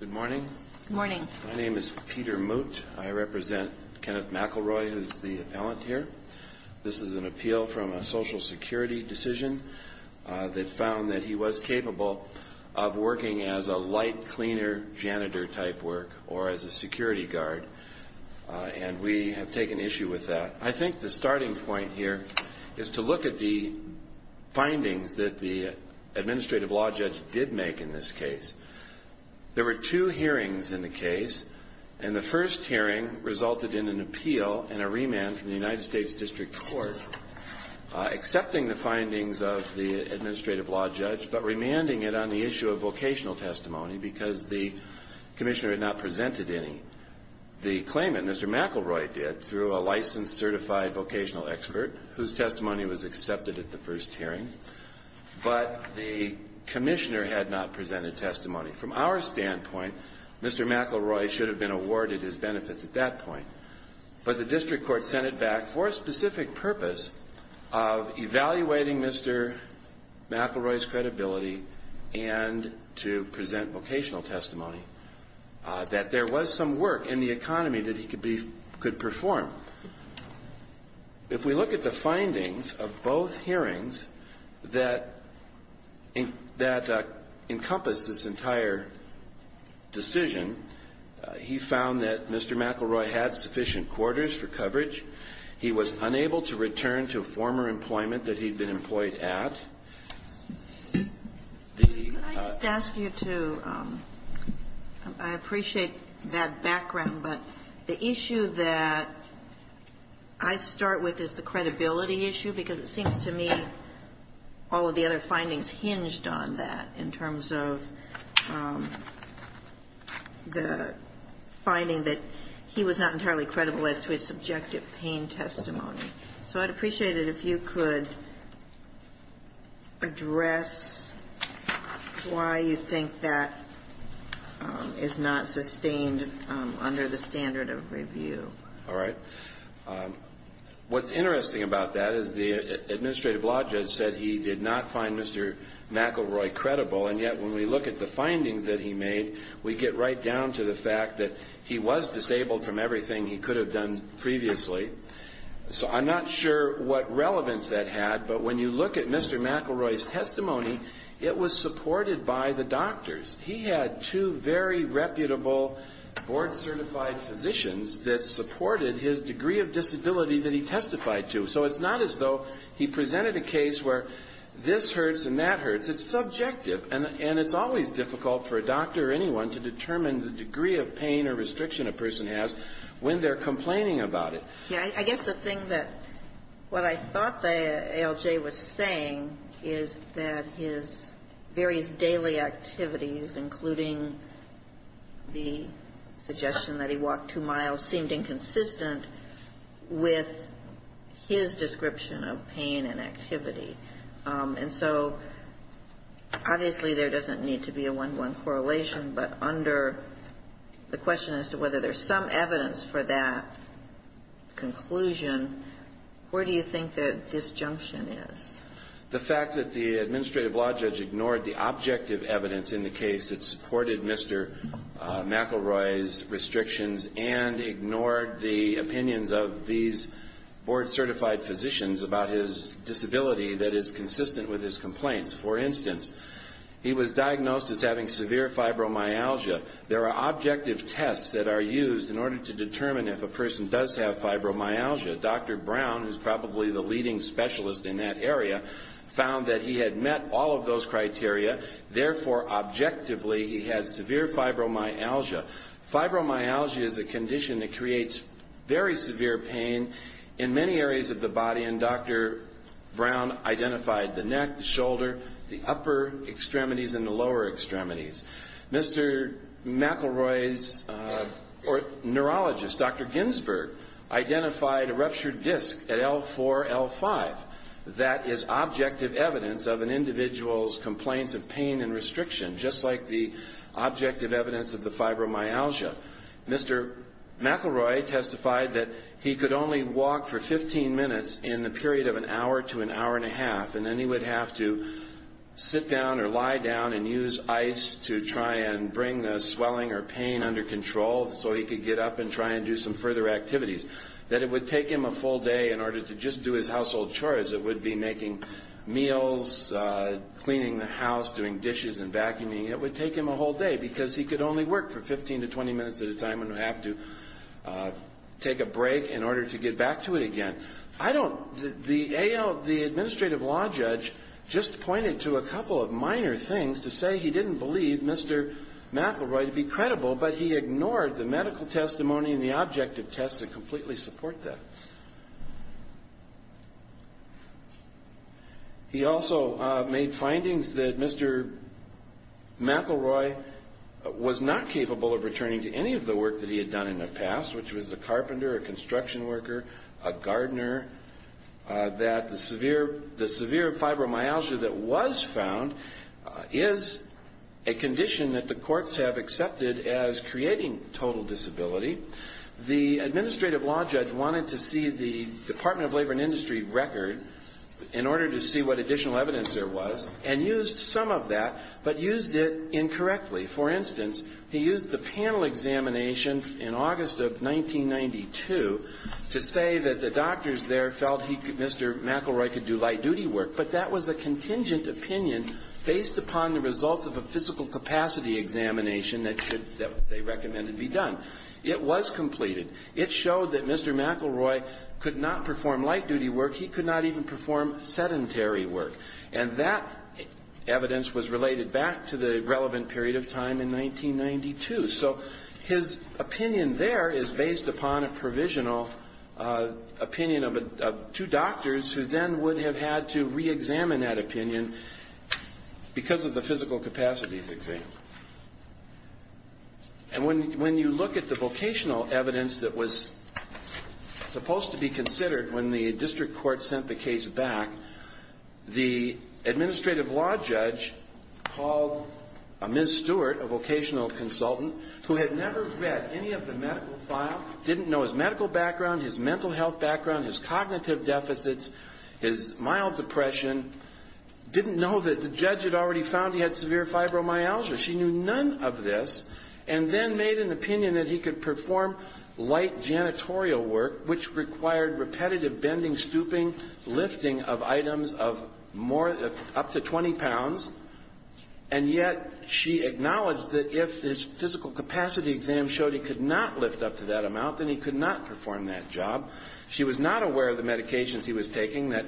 Good morning. My name is Peter Moot. I represent Kenneth McElroy who is the appellant here. This is an appeal from a social security decision that found that he was capable of working as a light cleaner janitor type work or as a security guard and we have taken issue with that. I think the starting point here is to look at the findings that the administrative law judge did make in this case. There were two hearings in the case and the first hearing resulted in an appeal and a remand from the United States District Court accepting the findings of the administrative law judge but remanding it on the issue of vocational testimony because the commissioner had not presented any. The claimant, Mr. McElroy did through a licensed certified vocational expert whose testimony was accepted at the first hearing but the commissioner had not presented testimony. From our standpoint, Mr. McElroy should have been awarded his benefits at that point but the district court sent it back for a specific purpose of evaluating Mr. McElroy's credibility and to present vocational testimony. That there was some work in the economy that he could perform. If we look at the findings of both hearings that encompass this entire decision, he found that Mr. McElroy had sufficient quarters for coverage. He was unable to return to former employment that he had been employed at. Can I just ask you to, I appreciate that background, but the issue that I start with is the credibility issue because it seems to me all of the other findings hinged on that in terms of the finding that he was not entirely credible as to his subjective pain testimony. So I'd appreciate it if you could address why you think that is not sustained under the standard of review. All right. What's interesting about that is the administrative law judge said he did not find Mr. McElroy credible and yet when we look at the findings that he made, we get right down to the fact that he was disabled from everything he could have done previously. So I'm not sure what relevance that had, but when you look at Mr. McElroy's testimony, it was supported by the doctors. He had two very reputable board certified physicians that supported his degree of disability that he testified to. So it's not as though he presented a case where this hurts and that hurts. It's subjective and it's always difficult for a doctor or anyone to determine the degree of pain or restriction a person has when they're complaining about it. I guess the thing that what I thought the ALJ was saying is that his various daily activities, including the suggestion that he walked two miles, seemed inconsistent with his description of pain and activity. And so obviously there doesn't need to be a one-to-one correlation, but under the question as to whether there's some evidence for that conclusion, where do you think the disjunction is? The fact that the administrative law judge ignored the objective evidence in the case that supported Mr. McElroy's restrictions and ignored the opinions of these board certified physicians about his disability that is consistent with his complaints. For instance, he was diagnosed as having severe fibromyalgia. There are objective tests that are used in order to determine if a person does have fibromyalgia. Dr. Brown, who's probably the leading specialist in that area, found that he had met all of those criteria. Therefore, objectively, he has severe fibromyalgia. Fibromyalgia is a condition that creates very severe pain in many areas of the body, and Dr. Brown identified the neck, the shoulder, the upper extremities, and the lower extremities. Mr. McElroy's neurologist, Dr. Ginsberg, identified a ruptured disc at L4, L5. That is objective evidence of an individual's complaints of pain and restriction, just like the objective evidence of the fibromyalgia. Mr. McElroy testified that he could only walk for 15 minutes in the period of an hour to an hour and a half, and then he would have to sit down or lie down and use ice to try and bring the swelling or pain under control so he could get up and try and do some further activities. That it would take him a full day in order to just do his household chores. It would be making meals, cleaning the house, doing dishes and vacuuming. It would take him a whole day because he could only work for 15 to 20 minutes at a time and have to take a break in order to get back to it again. The administrative law judge just pointed to a couple of minor things to say he didn't believe Mr. McElroy to be credible, but he ignored the medical testimony and the objective tests that completely support that. He also made findings that Mr. McElroy was not capable of returning to any of the work that he had done in the past, which was a carpenter, a construction worker, a gardener, that the severe fibromyalgia that was found is a condition that the courts have accepted as creating total disability. The administrative law judge wanted to see the Department of Labor and Industry record in order to see what additional evidence there was and used some of that, but used it incorrectly. For instance, he used the panel examination in August of 1992 to say that the doctors there felt Mr. McElroy could do light duty work, but that was a contingent opinion based upon the results of a physical capacity examination that they recommended be done. It was completed. It showed that Mr. McElroy could not perform light duty work. He could not even perform sedentary work, and that evidence was related back to the relevant period of time in 1992. So his opinion there is based upon a provisional opinion of two doctors who then would have had to reexamine that opinion because of the physical capacities exam. And when you look at the vocational evidence that was supposed to be considered when the district court sent the case back, the administrative law judge called a Ms. Stewart, a vocational consultant, who had never read any of the medical file, didn't know his medical background, his mental health background, his cognitive deficits, his mild depression, didn't know that the judge had already found he had severe fibromyalgia. She knew none of this and then made an opinion that he could perform light janitorial work, which required repetitive bending, stooping, lifting of items of more, up to 20 pounds, and yet she acknowledged that if his physical capacity exam showed he could not lift up to that amount, then he could not perform that job. She was not aware of the medications he was taking that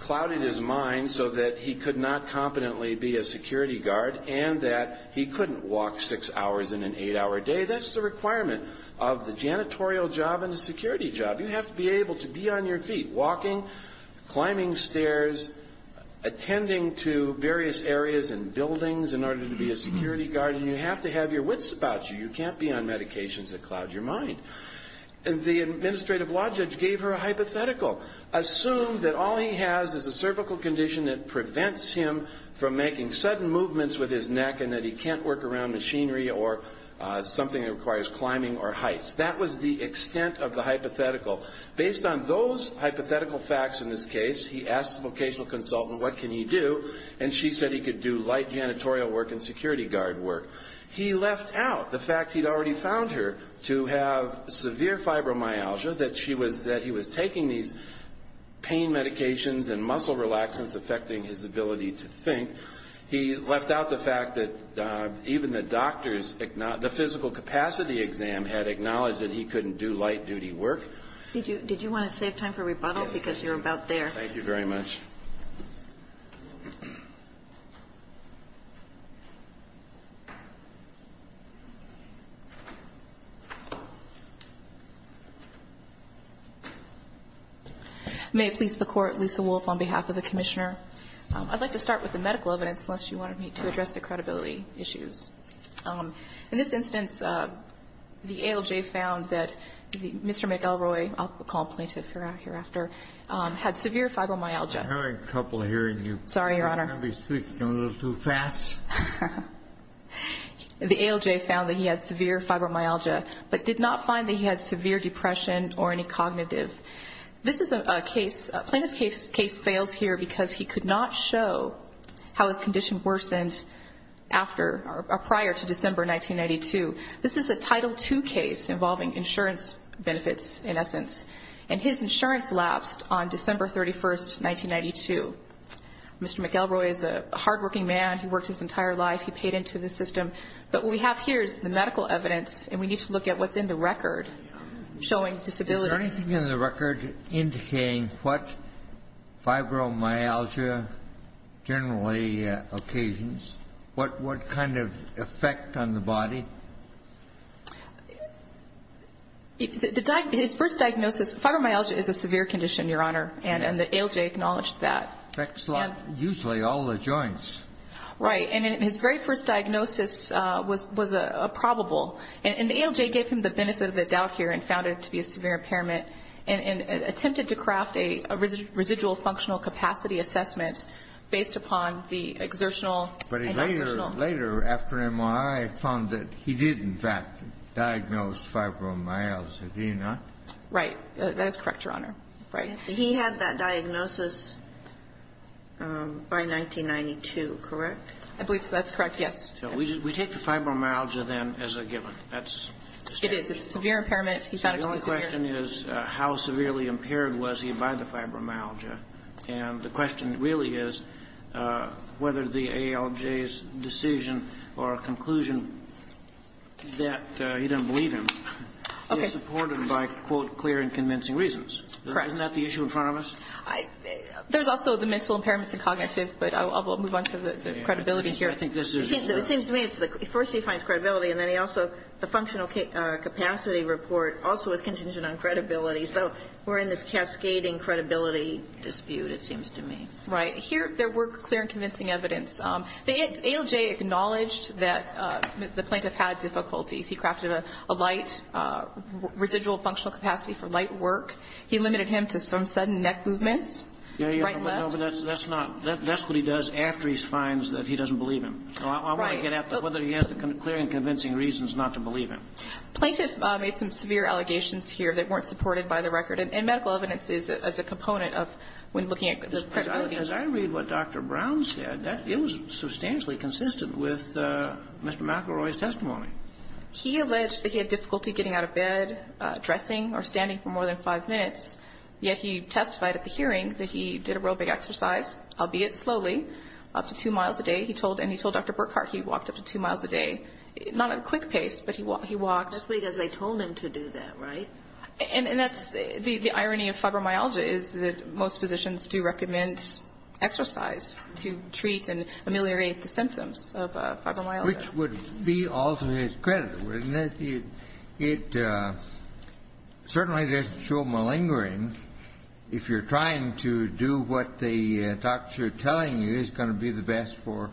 clouded his mind so that he could not competently be a security guard and that he couldn't walk six hours in an eight-hour day. That's the requirement of the janitorial job and the security job. You have to be able to be on your feet, walking, climbing stairs, attending to various areas and buildings in order to be a security guard, and you have to have your wits about you. You can't be on medications that cloud your mind. And the administrative law judge gave her a hypothetical. Assume that all he has is a cervical condition that prevents him from making sudden movements with his neck and that he can't work around machinery or something that requires climbing or heights. That was the extent of the hypothetical. Based on those hypothetical facts in this case, he asked the vocational consultant, what can he do? And she said he could do light janitorial work and security guard work. He left out the fact he'd already found her to have severe fibromyalgia, that he was taking these pain medications and muscle relaxants affecting his ability to think. He left out the fact that even the doctors, the physical capacity exam had acknowledged that he couldn't do light duty work. Did you want to save time for rebuttal because you're about there? Yes. Thank you very much. May it please the Court. Lisa Wolf on behalf of the Commissioner. I'd like to start with the medical evidence unless you wanted me to address the credibility issues. In this instance, the ALJ found that Mr. McElroy, I'll call him plaintiff hereafter, had severe fibromyalgia. I'm having trouble hearing you. Sorry, Your Honor. I'm going to be speaking a little too fast. The ALJ found that he had severe fibromyalgia, but did not find that he had severe depression or any cognitive. This is a case, plaintiff's case fails here because he could not show how his condition worsened after or prior to December 1992. This is a Title II case involving insurance benefits, in essence, and his insurance lapsed on December 31, 1992. Mr. McElroy is a hardworking man. He worked his entire life. He paid into the system. But what we have here is the medical evidence, and we need to look at what's in the record showing disability. Is there anything in the record indicating what fibromyalgia generally occasions? What kind of effect on the body? His first diagnosis, fibromyalgia is a severe condition, Your Honor, and the ALJ acknowledged that. Usually all the joints. Right. And his very first diagnosis was a probable. And the ALJ gave him the benefit of the doubt here and found it to be a severe impairment and attempted to craft a residual functional capacity assessment based upon the exertional. But he later, after MRI, found that he did, in fact, diagnose fibromyalgia, did he not? Right. That is correct, Your Honor. Right. He had that diagnosis by 1992, correct? I believe that's correct, yes. So we take the fibromyalgia then as a given. It is. It's a severe impairment. He found it to be severe. So the only question is how severely impaired was he by the fibromyalgia? And the question really is whether the ALJ's decision or conclusion that he didn't believe him is supported by, quote, clear and convincing reasons. Correct. Isn't that the issue in front of us? There's also the mental impairments and cognitive, but I'll move on to the credibility here. I think this is your point. It seems to me it's the first he finds credibility, and then he also, the functional capacity report also is contingent on credibility. So we're in this cascading credibility dispute, it seems to me. Right. Here there were clear and convincing evidence. The ALJ acknowledged that the plaintiff had difficulties. He crafted a light residual functional capacity for light work. He limited him to some sudden neck movements, right and left. No, but that's not, that's what he does after he finds that he doesn't believe him. So I want to get at whether he has the clear and convincing reasons not to believe him. Plaintiff made some severe allegations here that weren't supported by the record, and medical evidence is a component of when looking at the credibility. As I read what Dr. Brown said, it was substantially consistent with Mr. McElroy's testimony. He alleged that he had difficulty getting out of bed, dressing or standing for more than five minutes, yet he testified at the hearing that he did a real big exercise, albeit slowly, up to two miles a day. He told, and he told Dr. Burkhart he walked up to two miles a day, not at a quick pace, but he walked. That's because they told him to do that, right? And that's the irony of fibromyalgia is that most physicians do recommend exercise to treat and ameliorate the symptoms of fibromyalgia. Kennedy, which would be all to his credit, wouldn't it? It certainly doesn't show malingering. If you're trying to do what the doctors are telling you, it's going to be the best for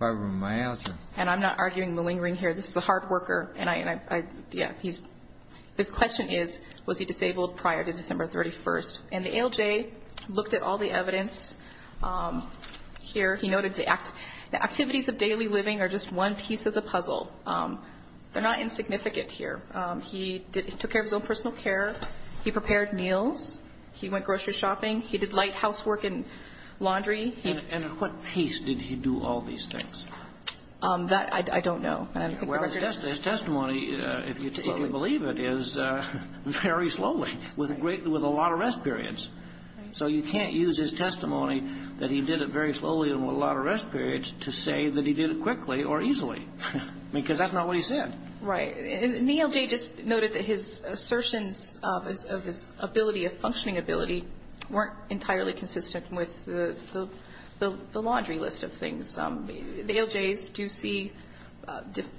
fibromyalgia. And I'm not arguing malingering here. This is a hard worker. And I, yeah, his question is, was he disabled prior to December 31st? And the ALJ looked at all the evidence here. He noted the activities of daily living are just one piece of the puzzle. They're not insignificant here. He took care of his own personal care. He prepared meals. He went grocery shopping. He did light housework and laundry. And at what pace did he do all these things? That I don't know. His testimony, if you believe it, is very slowly, with a lot of rest periods. So you can't use his testimony that he did it very slowly and with a lot of rest periods to say that he did it quickly or easily, because that's not what he said. Right. And the ALJ just noted that his assertions of his ability, of functioning ability, weren't entirely consistent with the laundry list of things. The ALJs do see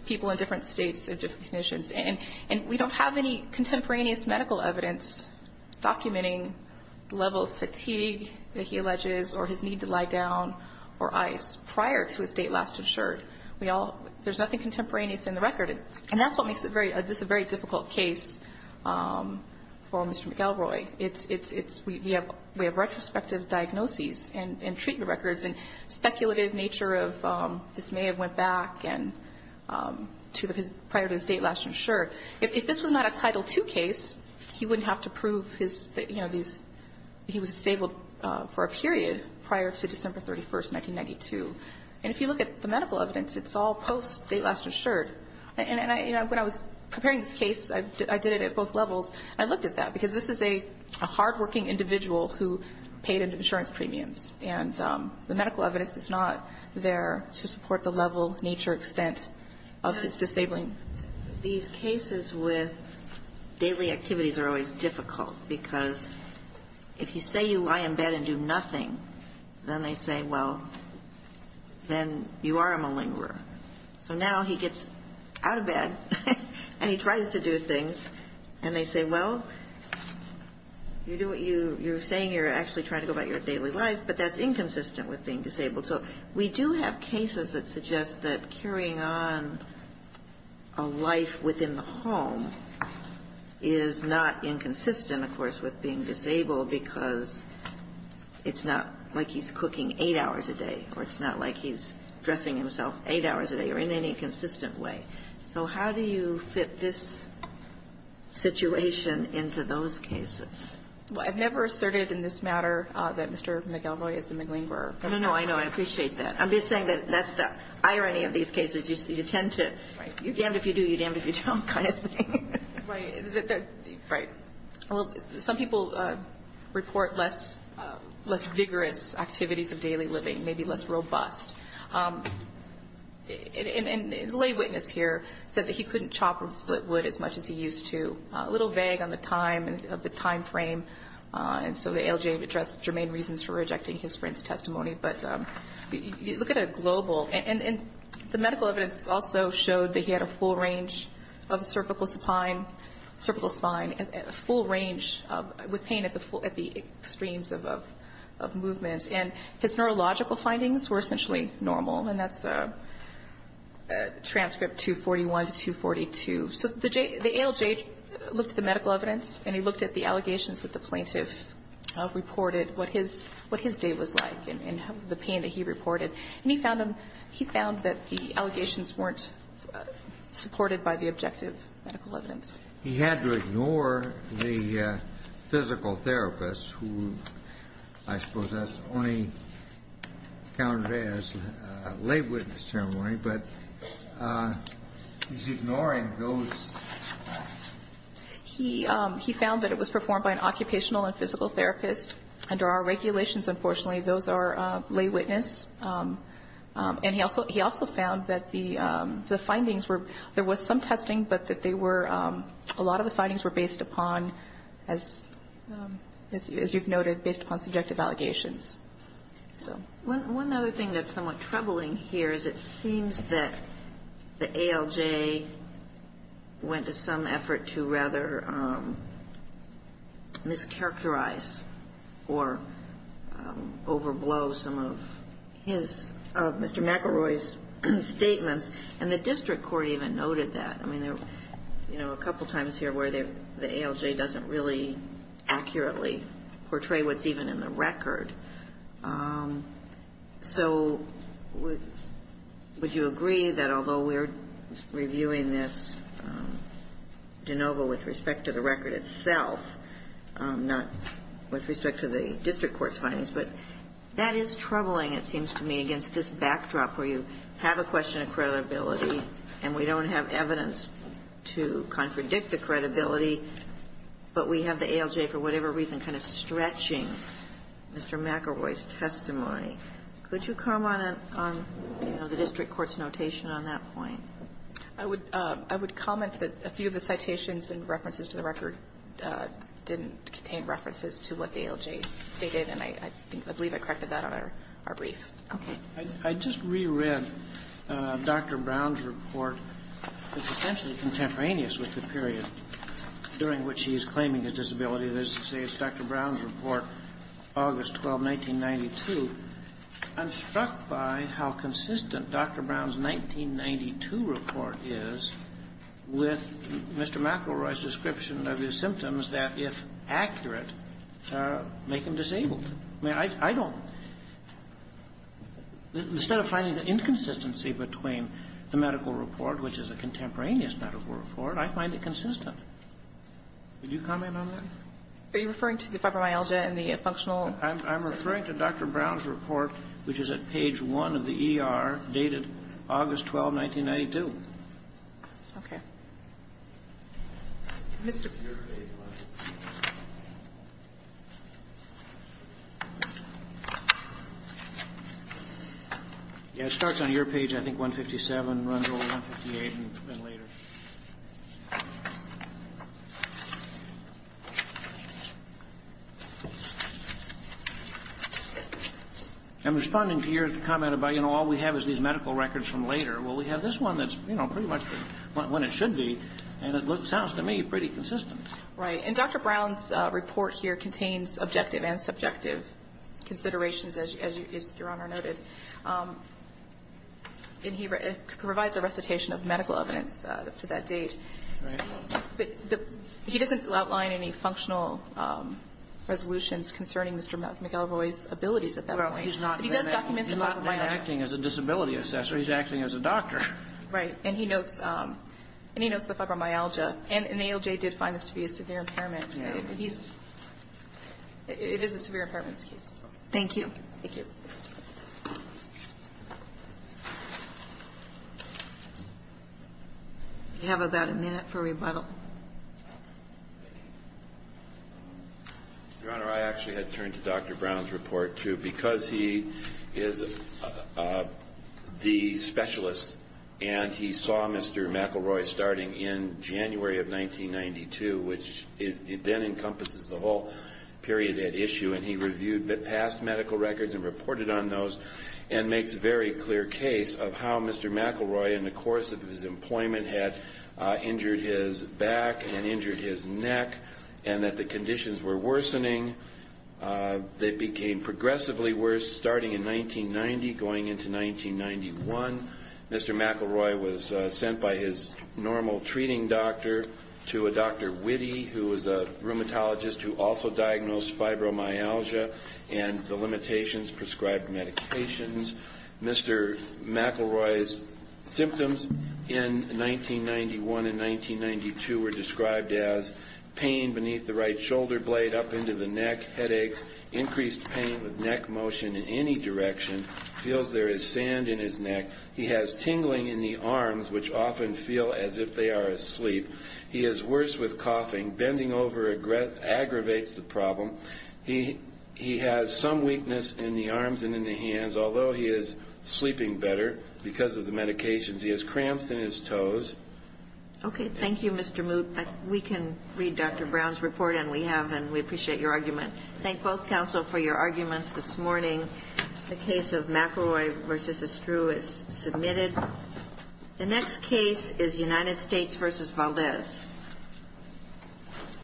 people in different states of different conditions. And we don't have any contemporaneous medical evidence documenting the level of fatigue that he alleges or his need to lie down or ice prior to his date last insured. There's nothing contemporaneous in the record. And that's what makes this a very difficult case for Mr. McElroy. We have retrospective diagnoses and treatment records and speculative nature of this may have went back prior to his date last insured. If this was not a Title II case, he wouldn't have to prove he was disabled for a period prior to December 31, 1992. And if you look at the medical evidence, it's all post-date last insured. And when I was preparing this case, I did it at both levels. I looked at that, because this is a hardworking individual who paid insurance premiums. And the medical evidence is not there to support the level, nature, extent of his disabling. These cases with daily activities are always difficult, because if you say you lie in bed and do nothing, then they say, well, then you are a malingerer. So now he gets out of bed and he tries to do things, and they say, well, you're saying you're actually trying to go about your daily life, but that's inconsistent with being disabled. So we do have cases that suggest that carrying on a life within the home is not inconsistent, of course, with being disabled, because it's not like he's cooking 8 hours a day, or it's not like he's dressing himself 8 hours a day, or in any consistent way. So how do you fit this situation into those cases? Well, I've never asserted in this matter that Mr. McElroy is a malingerer. No, no, no. I know. I appreciate that. I'm just saying that that's the irony of these cases. You tend to, you're damned if you do, you're damned if you don't kind of thing. Right. Right. Well, some people report less vigorous activities of daily living, maybe less robust. And the lay witness here said that he couldn't chop or split wood as much as he used to. A little vague on the time, of the time frame, and so the ALJ addressed germane reasons for rejecting his friend's testimony. But you look at a global, and the medical evidence also showed that he had a full range of cervical spine, a full range with pain at the extremes of movement. And his neurological findings were essentially normal, and that's transcript 241 to 242. So the ALJ looked at the medical evidence, and he looked at the allegations that the plaintiff reported, what his day was like and the pain that he reported. And he found that the allegations weren't supported by the objective medical evidence. He had to ignore the physical therapist, who I suppose that's only counted as a lay witness testimony, but he's ignoring those. He found that it was performed by an occupational and physical therapist. Under our regulations, unfortunately, those are lay witness. And he also found that the findings were, there was some testing, but that they were, a lot of the findings were based upon, as you've noted, based upon subjective allegations. One other thing that's somewhat troubling here is it seems that the ALJ went to some effort to rather mischaracterize or overblow some of his, of Mr. McElroy's statements. And the district court even noted that. I mean, you know, a couple times here where the ALJ doesn't really accurately portray what's even in the record. So would you agree that although we're reviewing this de novo with respect to the record itself, not with respect to the district court's findings, but that is troubling, it seems to me, against this backdrop where you have a question of credibility and we don't have evidence to contradict the credibility, but we have the ALJ for whatever reason kind of stretching Mr. McElroy's testimony. Could you comment on the district court's notation on that point? I would comment that a few of the citations and references to the record didn't contain references to what the ALJ stated, and I believe I corrected that on our brief. I just reread Dr. Brown's report. It's essentially contemporaneous with the period during which he is claiming his disability. It doesn't say it's Dr. Brown's report, August 12, 1992. I'm struck by how consistent Dr. Brown's 1992 report is with Mr. McElroy's description of his symptoms that, if accurate, make him disabled. I mean, I don't — instead of finding the inconsistency between the medical report, which is a contemporaneous medical report, I find it consistent. Would you comment on that? Are you referring to the fibromyalgia and the functional — I'm referring to Dr. Brown's report, which is at page 1 of the ER, dated August 12, 1992. Okay. Mr. — Your page, please. It starts on your page, I think, 157, runs over 158, and then later. I'm responding to your comment about, you know, all we have is these medical records from later. Well, we have this one that's, you know, pretty much when it should be, and it sounds to me pretty consistent. Right. And Dr. Brown's report here contains objective and subjective considerations, as Your Honor noted. And he provides a recitation of medical evidence. Right. But he doesn't outline any functional resolutions concerning Mr. McElroy's abilities at that point. No, he's not. But he does document the fibromyalgia. He's not acting as a disability assessor. He's acting as a doctor. Right. And he notes the fibromyalgia. And ALJ did find this to be a severe impairment. And he's — it is a severe impairments case. Thank you. Thank you. We have about a minute for rebuttal. Your Honor, I actually had turned to Dr. Brown's report, too, because he is the specialist, and he saw Mr. McElroy starting in January of 1992, which then encompasses the whole period at issue. And he reviewed the past medical records and reported on those and makes a very clear case of how Mr. McElroy, in the course of his employment, had injured his back and injured his neck and that the conditions were worsening. They became progressively worse starting in 1990, going into 1991. Mr. McElroy was sent by his normal treating doctor to a Dr. Witte, who is a rheumatologist who also diagnosed fibromyalgia and the limitations prescribed medications. Mr. McElroy's symptoms in 1991 and 1992 were described as pain beneath the right shoulder blade, up into the neck, headaches, increased pain with neck motion in any direction, feels there is sand in his neck. He has tingling in the arms, which often feel as if they are asleep. He is worse with coughing. Bending over aggravates the problem. He has some weakness in the arms and in the hands, although he is sleeping better because of the medications. He has cramps in his toes. Okay. Thank you, Mr. Moot. We can read Dr. Brown's report, and we have, and we appreciate your argument. Thank both counsel for your arguments this morning. The case of McElroy v. Estrue is submitted. The next case is United States v. Valdez.